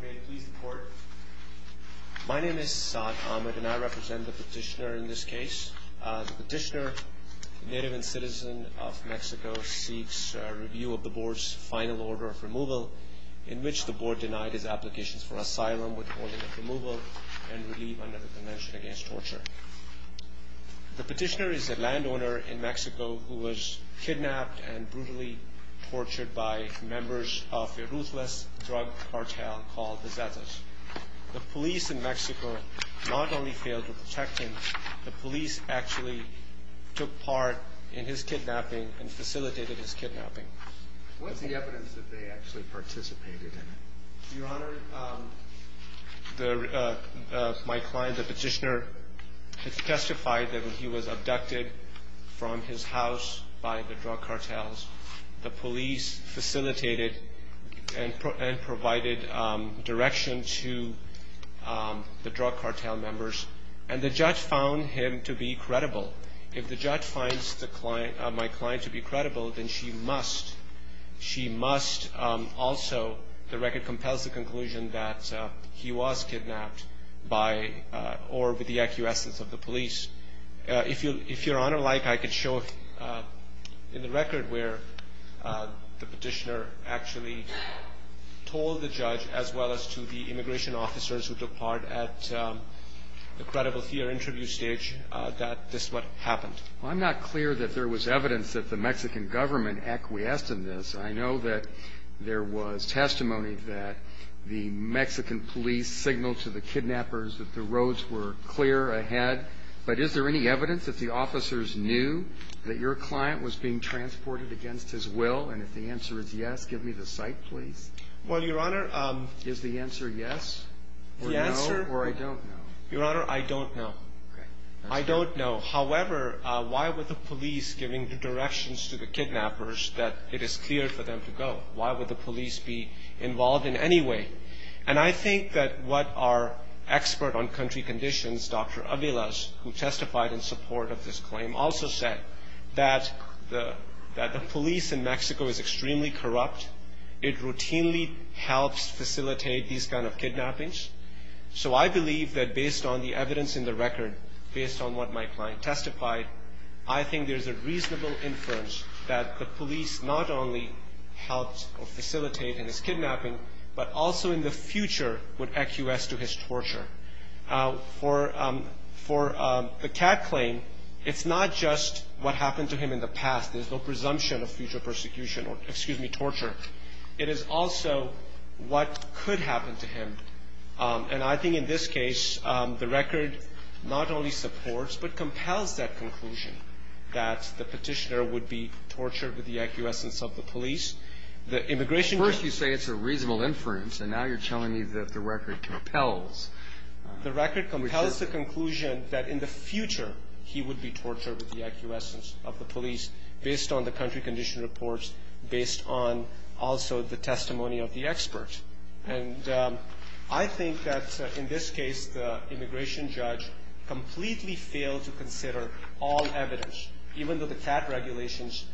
May it please the court. My name is Saad Ahmed and I represent the petitioner in this case. The petitioner, a native and citizen of Mexico, seeks a review of the board's final order of removal in which the board denied his applications for asylum with holding of removal and relief under the Convention Against Torture. The petitioner is a landowner in Mexico who was kidnapped and brutally tortured by members of a ruthless drug cartel called the Zetas. The police in Mexico not only failed to protect him, the police actually took part in his kidnapping and facilitated his kidnapping. What's the evidence that they actually participated in it? Your Honor, my client, the petitioner, testified that he was abducted from his house by the drug cartels. The police facilitated and provided direction to the drug cartel members and the judge found him to be credible. If the judge finds my client to be credible, then she must also, the record compels the conclusion that he was kidnapped by or with the acquiescence of the police. If Your Honor like, I could show in the record where the petitioner actually told the judge as well as to the immigration officers who took part at the credible fear interview stage that this is what happened. Well, I'm not clear that there was evidence that the Mexican government acquiesced in this. I know that there was testimony that the Mexican police signaled to the kidnappers that the roads were clear ahead. But is there any evidence that the officers knew that your client was being transported against his will? And if the answer is yes, give me the site, please. Well, Your Honor. Is the answer yes or no or I don't know? Your Honor, I don't know. Okay. I don't know. However, why were the police giving the directions to the kidnappers that it is clear for them to go? Why would the police be involved in any way? And I think that what our expert on country conditions, Dr. Avila, who testified in support of this claim, also said that the police in Mexico is extremely corrupt. It routinely helps facilitate these kind of kidnappings. So I believe that based on the evidence in the record, based on what my client testified, I think there's a reasonable inference that the police not only helped facilitate in his kidnapping, but also in the future would accuse to his torture. For the Cat claim, it's not just what happened to him in the past. There's no presumption of future persecution or, excuse me, torture. It is also what could happen to him. And I think in this case, the record not only supports but compels that conclusion, that the petitioner would be tortured with the acquiescence of the police. The immigration case. First you say it's a reasonable inference, and now you're telling me that the record compels. The record compels the conclusion that in the future he would be tortured with the acquiescence of the police. Based on the country condition reports, based on also the testimony of the expert. And I think that in this case, the immigration judge completely failed to consider all evidence, even though the Cat regulations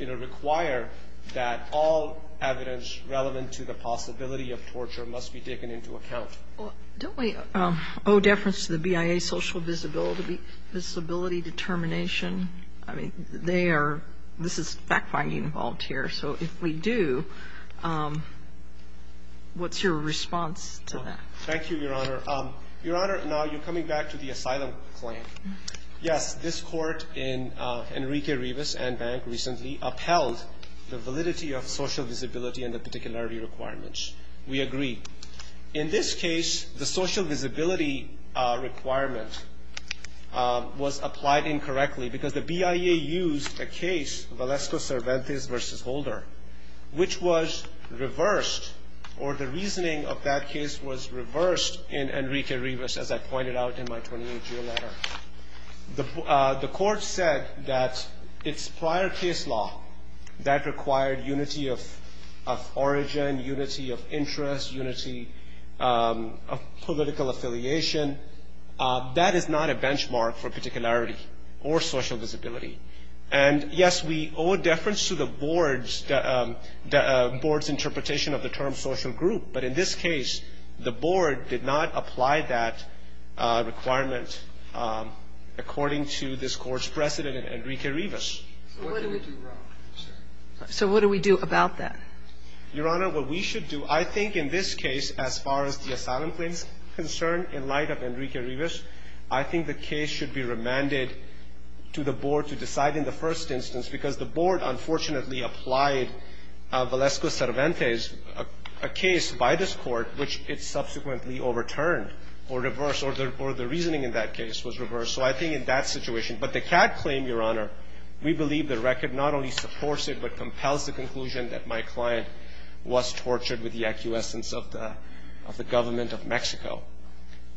require that all evidence relevant to the possibility of torture must be taken into account. Don't we owe deference to the BIA social visibility determination? I mean, they are – this is fact-finding involved here. So if we do, what's your response to that? Thank you, Your Honor. Your Honor, now you're coming back to the asylum claim. Yes, this Court in Enrique Rivas and Bank recently upheld the validity of social visibility and the particularity requirements. We agree. In this case, the social visibility requirement was applied incorrectly because the BIA used a case, Valesco-Cervantes v. Holder, which was reversed, or the reasoning of that case was reversed in Enrique Rivas, as I pointed out in my 28-year letter. The Court said that its prior case law that required unity of origin, unity of interest, unity of political affiliation, that is not a benchmark for particularity or social visibility. And, yes, we owe deference to the Board's interpretation of the term social group, but in this case, the Board did not apply that requirement according to this Court's precedent in Enrique Rivas. So what do we do about that? Your Honor, what we should do, I think in this case, as far as the asylum claim is concerned, in light of Enrique Rivas, I think the case should be remanded to the Board to decide in the first instance, because the Board unfortunately applied Valesco-Cervantes, a case by this Court, which it subsequently overturned or reversed, or the reasoning in that case was reversed. So I think in that situation, but the CAD claim, Your Honor, we believe the record not only supports it, but compels the conclusion that my client was tortured with the acquiescence of the government of Mexico.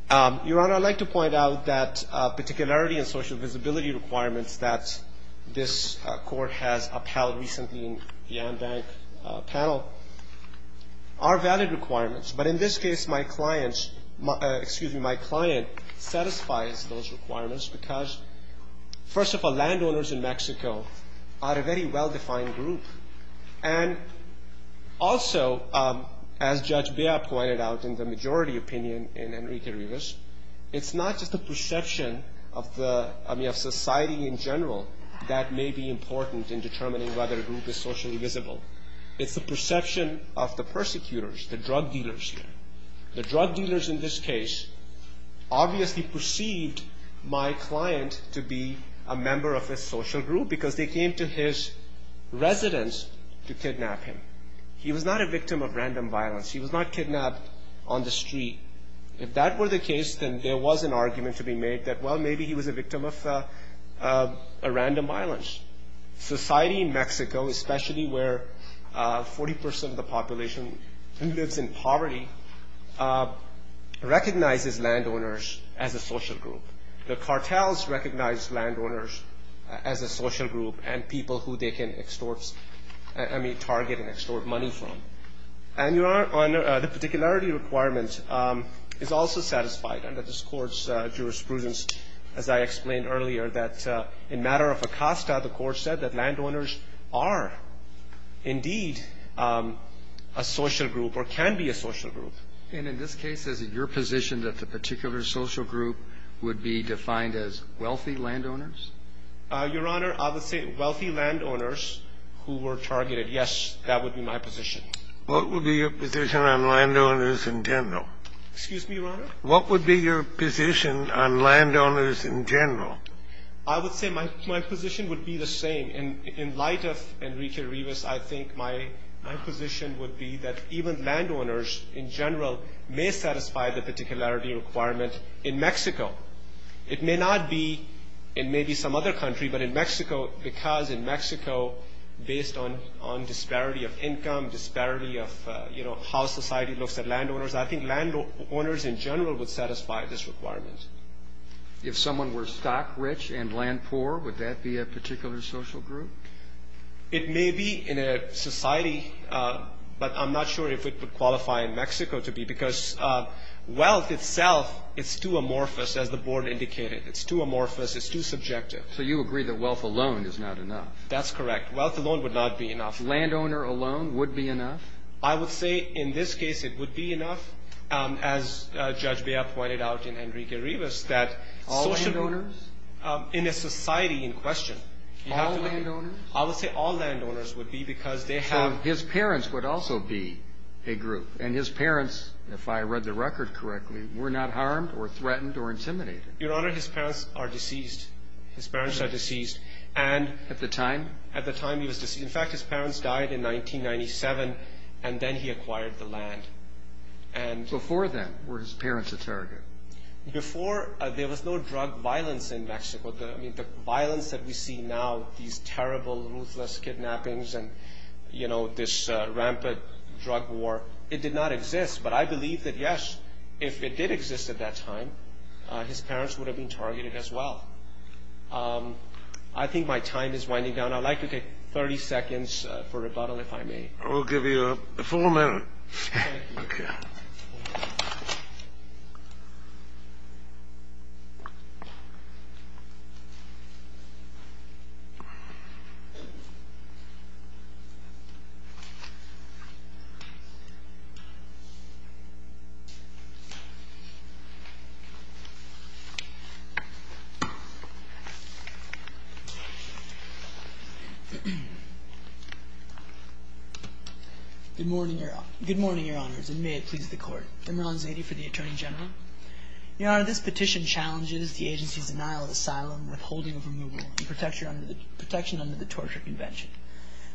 Your Honor, I'd like to point out that particularity and social visibility requirements that this Court has upheld recently in the Ambank panel are valid requirements. But in this case, my client's — excuse me, my client satisfies those requirements because, first of all, landowners in Mexico are a very well-defined group. And also, as Judge Bea pointed out in the majority opinion in Enrique Rivas, it's not just the perception of society in general that may be important in determining whether a group is socially visible. It's the perception of the persecutors, the drug dealers here. The drug dealers in this case obviously perceived my client to be a member of a social group because they came to his residence to kidnap him. He was not a victim of random violence. He was not kidnapped on the street. If that were the case, then there was an argument to be made that, well, maybe he was a victim of random violence. Society in Mexico, especially where 40 percent of the population lives in poverty, recognizes landowners as a social group. The cartels recognize landowners as a social group and people who they can extort, I mean, target and extort money from. And Your Honor, the particularity requirement is also satisfied under this Court's jurisprudence, as I explained earlier, that in matter of Acosta, the Court said that landowners are indeed a social group or can be a social group. And in this case, is it your position that the particular social group would be defined as wealthy landowners? Your Honor, I would say wealthy landowners who were targeted. Yes, that would be my position. What would be your position on landowners in general? Excuse me, Your Honor? What would be your position on landowners in general? I would say my position would be the same. In light of Enrique Rivas, I think my position would be that even landowners in general may satisfy the particularity requirement in Mexico. It may not be in maybe some other country, but in Mexico, because in Mexico, based on disparity of income, disparity of, you know, how society looks at landowners, I think landowners in general would satisfy this requirement. If someone were stock-rich and land-poor, would that be a particular social group? It may be in a society, but I'm not sure if it would qualify in Mexico to be, because wealth itself, it's too amorphous, as the Board indicated. It's too amorphous. It's too subjective. So you agree that wealth alone is not enough? That's correct. Wealth alone would not be enough. Landowner alone would be enough? I would say in this case it would be enough, as Judge Bea pointed out in Enrique Rivas, that social groups... All landowners? In a society in question, you have to... All landowners? I would say all landowners would be, because they have... So his parents would also be a group. And his parents, if I read the record correctly, were not harmed or threatened or intimidated? Your Honor, his parents are deceased. His parents are deceased. And... At the time? At the time he was deceased. In fact, his parents died in 1997, and then he acquired the land. And... Before then, were his parents a target? Before, there was no drug violence in Mexico. I mean, the violence that we see now, these terrible, ruthless kidnappings and, you know, this rampant drug war, it did not exist. But I believe that, yes, if it did exist at that time, his parents would have been targeted as well. I think my time is winding down. I'd like to take 30 seconds for rebuttal, if I may. I will give you four minutes. Thank you. Good morning, Your Honor. Good morning, Your Honors, and may it please the Court. Emerald Zadie for the Attorney General. Your Honor, this petition challenges the agency's denial of asylum, withholding of removal, and protection under the Torture Convention.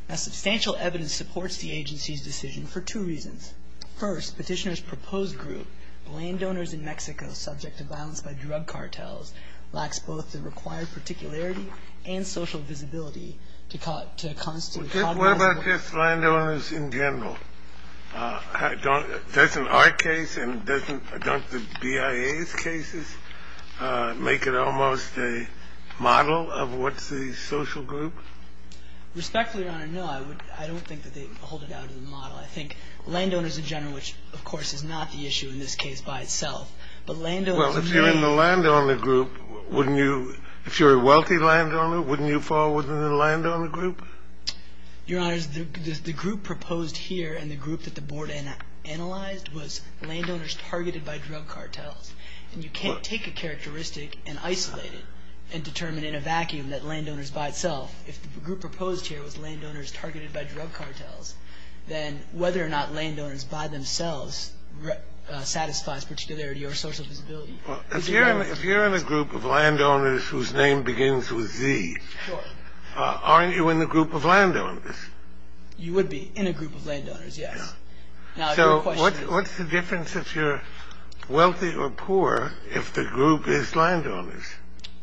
Now, substantial evidence supports the agency's decision for two reasons. First, petitioner's proposed group, landowners in Mexico subject to violence by drug cartels, lacks both the required particularity and social visibility to constitute a controversial group. What about just landowners in general? Doesn't our case and doesn't the BIA's cases make it almost a model of what's the social group? Respectfully, Your Honor, no, I don't think that they hold it out as a model. I think landowners in general, which, of course, is not the issue in this case by itself, but landowners in general. Well, if you're in the landowner group, wouldn't you, if you're a wealthy landowner, wouldn't you fall within the landowner group? Your Honors, the group proposed here and the group that the Board analyzed was landowners targeted by drug cartels. And you can't take a characteristic and isolate it and determine in a vacuum that landowners by itself. If the group proposed here was landowners targeted by drug cartels, then whether or not landowners by themselves satisfies particularity or social visibility. If you're in a group of landowners whose name begins with Z, aren't you in the group of landowners? You would be in a group of landowners, yes. So what's the difference if you're wealthy or poor if the group is landowners?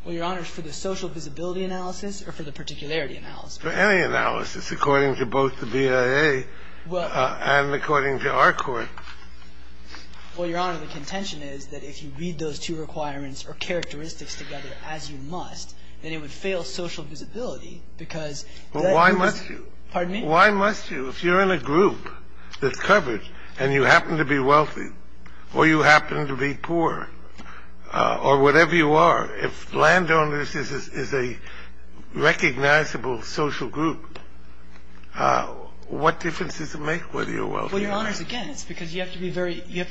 Well, Your Honors, for the social visibility analysis or for the particularity analysis? For any analysis, according to both the BIA and according to our court. Well, Your Honor, the contention is that if you read those two requirements or characteristics together as you must, then it would fail social visibility because that is. Well, why must you? Pardon me? Why must you? If you're in a group that's covered and you happen to be wealthy or you happen to be poor or whatever you are, if landowners is a recognizable social group, what difference does it make whether you're wealthy or not? Well, Your Honors, again, it's because you have to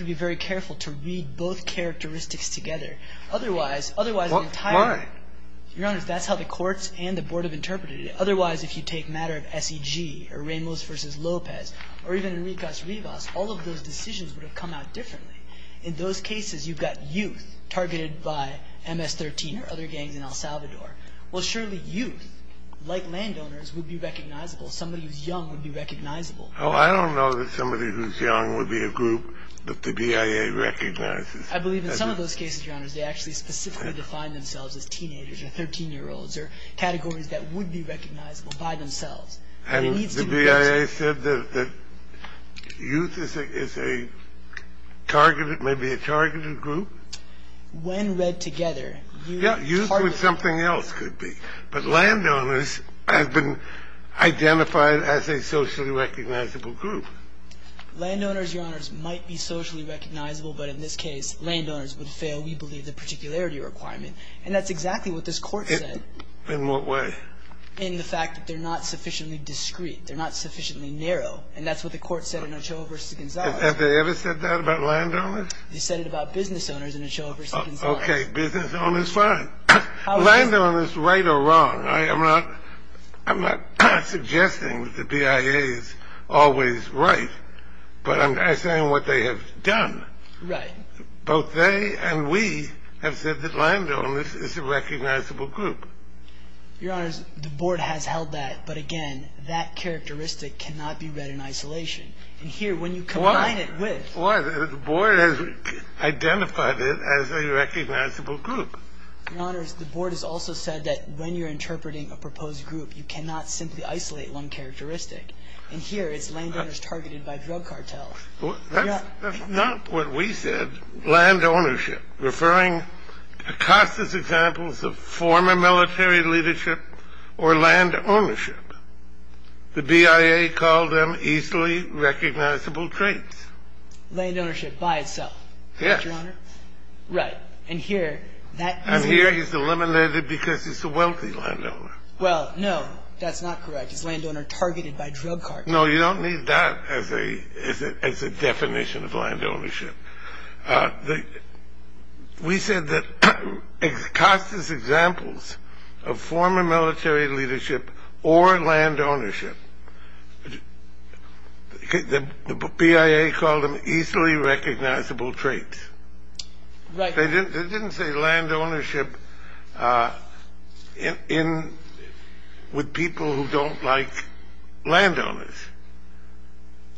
be very careful to read both characteristics together. Otherwise, otherwise entirely. Why? Your Honors, that's how the courts and the board have interpreted it. Otherwise, if you take matter of SEG or Ramos versus Lopez or even Enriquez Rivas, all of those decisions would have come out differently. In those cases, you've got youth targeted by MS-13 or other gangs in El Salvador. Well, surely youth, like landowners, would be recognizable. Somebody who's young would be recognizable. Oh, I don't know that somebody who's young would be a group that the BIA recognizes. I believe in some of those cases, Your Honors, they actually specifically define themselves as teenagers or 13-year-olds or categories that would be recognizable by themselves. And the BIA said that youth is a targeted, maybe a targeted group? When read together. Yeah, youth would something else could be. But landowners have been identified as a socially recognizable group. Landowners, Your Honors, might be socially recognizable. But in this case, landowners would fail, we believe, the particularity requirement. And that's exactly what this court said. In what way? In the fact that they're not sufficiently discreet. They're not sufficiently narrow. And that's what the court said in Ochoa v. Gonzales. Have they ever said that about landowners? They said it about business owners in Ochoa v. Gonzales. Okay, business owners, fine. Landowners, right or wrong? I'm not suggesting that the BIA is always right. But I'm saying what they have done. Right. Both they and we have said that landowners is a recognizable group. Your Honors, the board has held that. But, again, that characteristic cannot be read in isolation. And here, when you combine it with. The board has identified it as a recognizable group. Your Honors, the board has also said that when you're interpreting a proposed group, you cannot simply isolate one characteristic. And here, it's landowners targeted by drug cartels. That's not what we said. Landownership. Referring to Acosta's examples of former military leadership or landownership. The BIA called them easily recognizable traits. Landownership by itself. Yes. Right. And here. And here, he's eliminated because he's a wealthy landowner. Well, no, that's not correct. He's a landowner targeted by drug cartels. No, you don't need that as a definition of landownership. We said that Acosta's examples of former military leadership or landownership. The BIA called them easily recognizable traits. Right. They didn't say landownership with people who don't like landowners.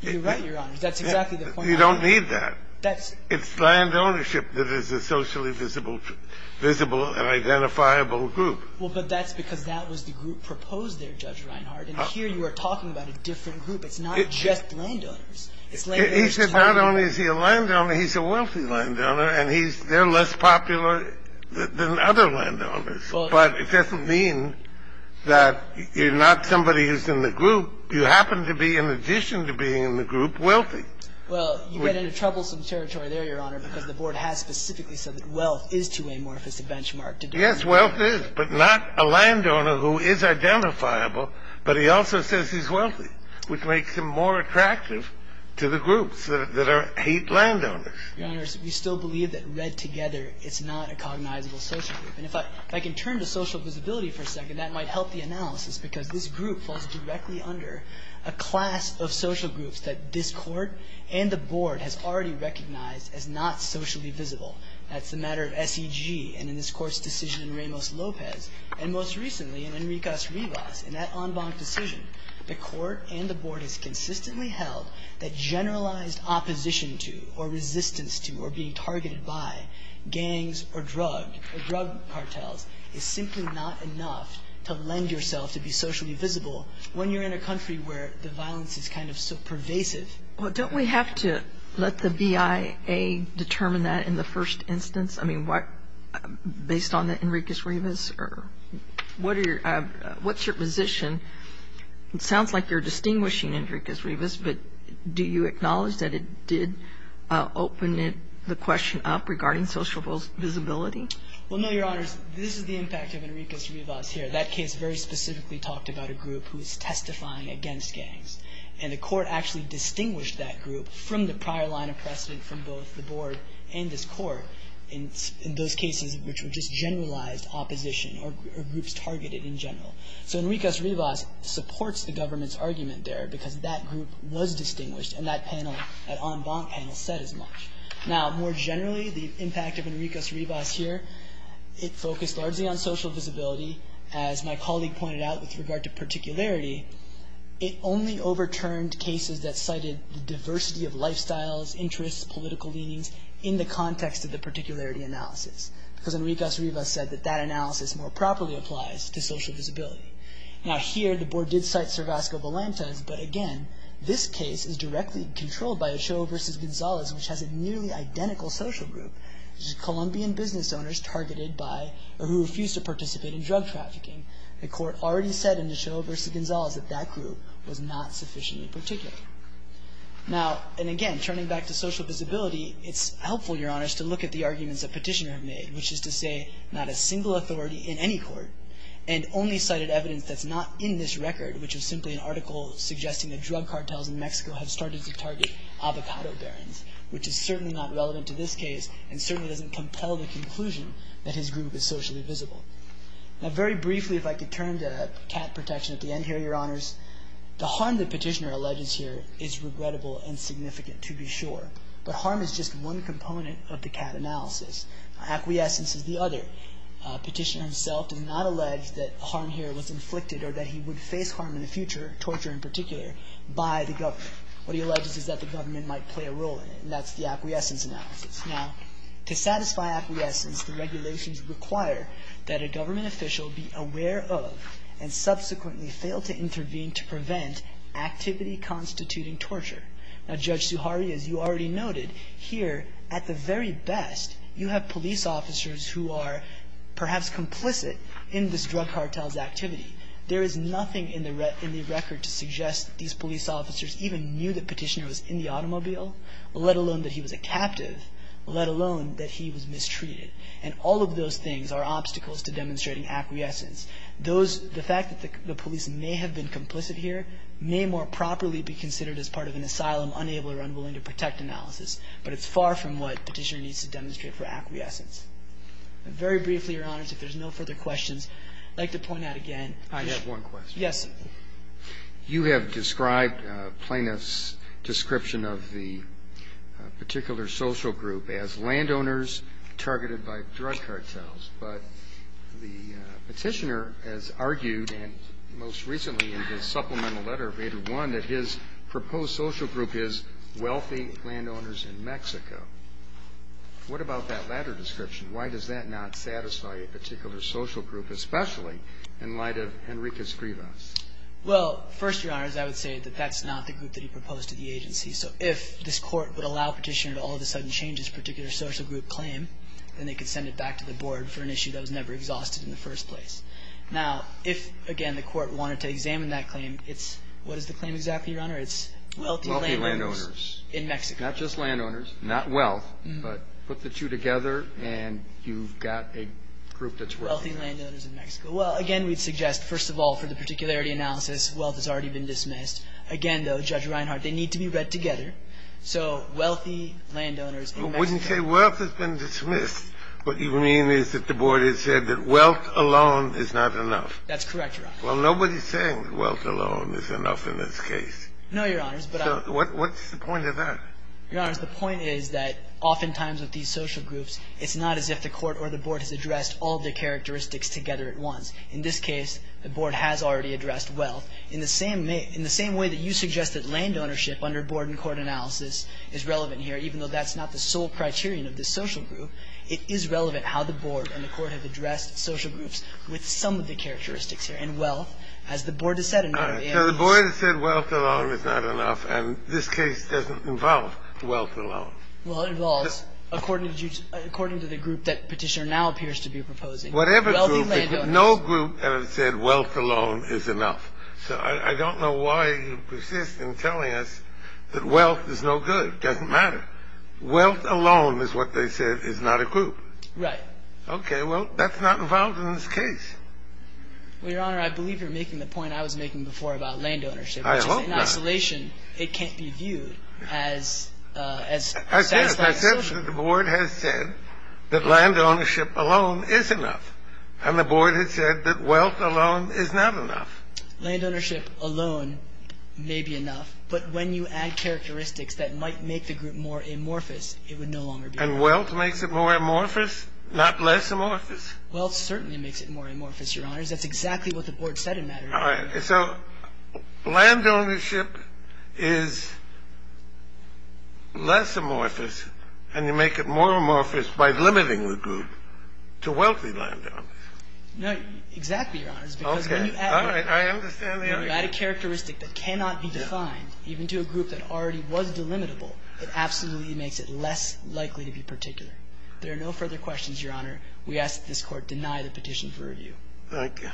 You're right, Your Honors. That's exactly the point. You don't need that. It's landownership that is a socially visible and identifiable group. Well, but that's because that was the group proposed there, Judge Reinhart. And here, you are talking about a different group. It's not just landowners. It's landowners targeted. He said not only is he a landowner, he's a wealthy landowner. And they're less popular than other landowners. But it doesn't mean that you're not somebody who's in the group. You happen to be, in addition to being in the group, wealthy. Well, you get into troublesome territory there, Your Honor, because the board has specifically said that wealth is too amorphous a benchmark to do that. Yes, wealth is, but not a landowner who is identifiable, but he also says he's wealthy, which makes him more attractive to the groups that hate landowners. Your Honor, we still believe that read together, it's not a cognizable social group. And if I can turn to social visibility for a second, that might help the analysis, because this group falls directly under a class of social groups that this Court and the board has already recognized as not socially visible. That's the matter of SEG and in this Court's decision in Ramos-Lopez, and most recently in Enriquez-Rivas, in that en banc decision. The Court and the board has consistently held that generalized opposition to or resistance to or being targeted by gangs or drug cartels is simply not enough to lend yourself to be socially visible when you're in a country where the violence is kind of so pervasive. Well, don't we have to let the BIA determine that in the first instance? I mean, based on Enriquez-Rivas? What's your position? It sounds like you're distinguishing Enriquez-Rivas, but do you acknowledge that it did open the question up regarding social visibility? Well, no, Your Honors. This is the impact of Enriquez-Rivas here. That case very specifically talked about a group who is testifying against gangs, and the Court actually distinguished that group from the prior line of precedent from both the board and this Court in those cases which were just generalized opposition or groups targeted in general. So Enriquez-Rivas supports the government's argument there because that group was distinguished and that panel, that en banc panel, said as much. Now, more generally, the impact of Enriquez-Rivas here, it focused largely on social visibility. As my colleague pointed out with regard to particularity, it only overturned cases that cited the diversity of lifestyles, interests, political leanings in the context of the particularity analysis because Enriquez-Rivas said that that analysis more properly applies to social visibility. Now, here, the board did cite Cervasco-Valentes, but again, this case is directly controlled by Ochoa v. Gonzalez, which has a nearly identical social group, which is Colombian business owners targeted by or who refuse to participate in drug trafficking. The Court already said in Ochoa v. Gonzalez that that group was not sufficiently particular. Now, and again, turning back to social visibility, it's helpful, Your Honors, to look at the arguments the petitioner made, which is to say not a single authority in any court and only cited evidence that's not in this record, which is simply an article suggesting that drug cartels in Mexico have started to target avocado barons, which is certainly not relevant to this case and certainly doesn't compel the conclusion that his group is socially visible. Now, very briefly, if I could turn to cat protection at the end here, Your Honors, the harm the petitioner alleges here is regrettable and significant to be sure, but harm is just one component of the cat analysis. Acquiescence is the other. The petitioner himself did not allege that harm here was inflicted or that he would face harm in the future, torture in particular, by the government. What he alleges is that the government might play a role in it, and that's the acquiescence analysis. Now, to satisfy acquiescence, the regulations require that a government official be aware of and subsequently fail to intervene to prevent activity constituting torture. Now, Judge Zuhari, as you already noted, here at the very best you have police officers who are perhaps complicit in this drug cartel's activity. There is nothing in the record to suggest these police officers even knew the petitioner was in the automobile, let alone that he was a captive, let alone that he was mistreated, and all of those things are obstacles to demonstrating acquiescence. The fact that the police may have been complicit here may more properly be considered as part of an asylum, unable or unwilling to protect analysis, but it's far from what petitioner needs to demonstrate for acquiescence. Very briefly, Your Honors, if there's no further questions, I'd like to point out again. I have one question. Yes. You have described plaintiff's description of the particular social group as landowners targeted by drug cartels, but the petitioner has argued, and most recently in his supplemental letter, made it one, that his proposed social group is wealthy landowners in Mexico. What about that latter description? Why does that not satisfy a particular social group, especially in light of Henrica's grievance? Well, first, Your Honors, I would say that that's not the group that he proposed to the agency. So if this Court would allow petitioner to all of a sudden change his particular social group claim, then they could send it back to the Board for an issue that was never exhausted in the first place. Now, if, again, the Court wanted to examine that claim, it's what is the claim exactly, Your Honor? It's wealthy landowners in Mexico. Wealthy landowners. Not just landowners, not wealth, but put the two together and you've got a group that's working there. Wealthy landowners in Mexico. Well, again, we'd suggest, first of all, for the particularity analysis, wealth has already been dismissed. Again, though, Judge Reinhart, they need to be read together. So wealthy landowners in Mexico. I wouldn't say wealth has been dismissed. What you mean is that the Board has said that wealth alone is not enough. That's correct, Your Honor. Well, nobody's saying that wealth alone is enough in this case. No, Your Honors, but I'm — So what's the point of that? Your Honors, the point is that oftentimes with these social groups, it's not as if the Court or the Board has addressed all of the characteristics together at once. In this case, the Board has already addressed wealth. In the same way that you suggest that land ownership under board and court analysis is relevant here, even though that's not the sole criterion of this social group, it is relevant how the Board and the Court have addressed social groups with some of the characteristics here. And wealth, as the Board has said, in order to — All right. So the Board has said wealth alone is not enough. And this case doesn't involve wealth alone. Well, it involves, according to the group that Petitioner now appears to be proposing, wealthy landowners — Whatever group. No group has said wealth alone is enough. So I don't know why you persist in telling us that wealth is no good. It doesn't matter. Wealth alone is what they said is not a group. Right. Okay. Well, that's not involved in this case. Well, Your Honor, I believe you're making the point I was making before about land ownership. I hope not. Which is in isolation, it can't be viewed as satisfying social — I said it. I said that the Board has said that land ownership alone is enough. And the Board has said that wealth alone is not enough. Land ownership alone may be enough. But when you add characteristics that might make the group more amorphous, it would no longer be. And wealth makes it more amorphous, not less amorphous? Wealth certainly makes it more amorphous, Your Honors. That's exactly what the Board said in that argument. All right. So land ownership is less amorphous, and you make it more amorphous by limiting the group to wealthy landowners. No, exactly, Your Honors. Okay. All right. I understand the argument. When you add a characteristic that cannot be defined, even to a group that already was delimitable, it absolutely makes it less likely to be particular. There are no further questions, Your Honor. We ask that this Court deny the petition for review. Thank you.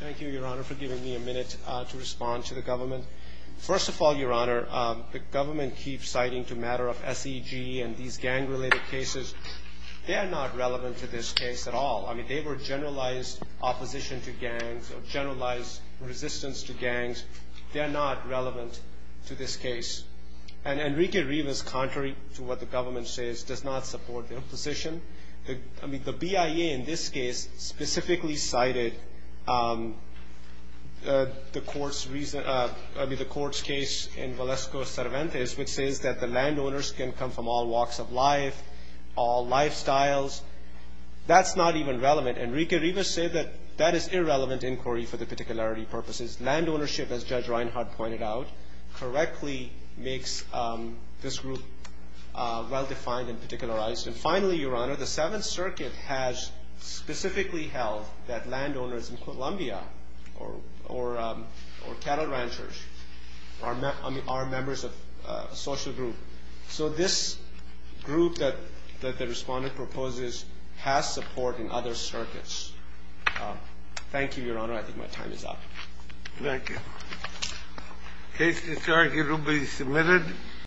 Thank you, Your Honor, for giving me a minute to respond to the government. First of all, Your Honor, the government keeps citing the matter of SEG and these gang-related cases. They are not relevant to this case at all. I mean, they were generalized opposition to gangs or generalized resistance to gangs. They are not relevant to this case. And Enrique Rivas, contrary to what the government says, does not support their position. I mean, the BIA in this case specifically cited the Court's case in Valesco-Cervantes, which says that the landowners can come from all walks of life, all lifestyles. That's not even relevant. Enrique Rivas said that that is irrelevant inquiry for the particularity purposes. Land ownership, as Judge Reinhart pointed out, correctly makes this group well-defined and particularized. And finally, Your Honor, the Seventh Circuit has specifically held that landowners in Colombia or cattle ranchers are members of a social group. So this group that the Respondent proposes has support in other circuits. Thank you, Your Honor. I think my time is up. Thank you. Case to charge, it will be submitted.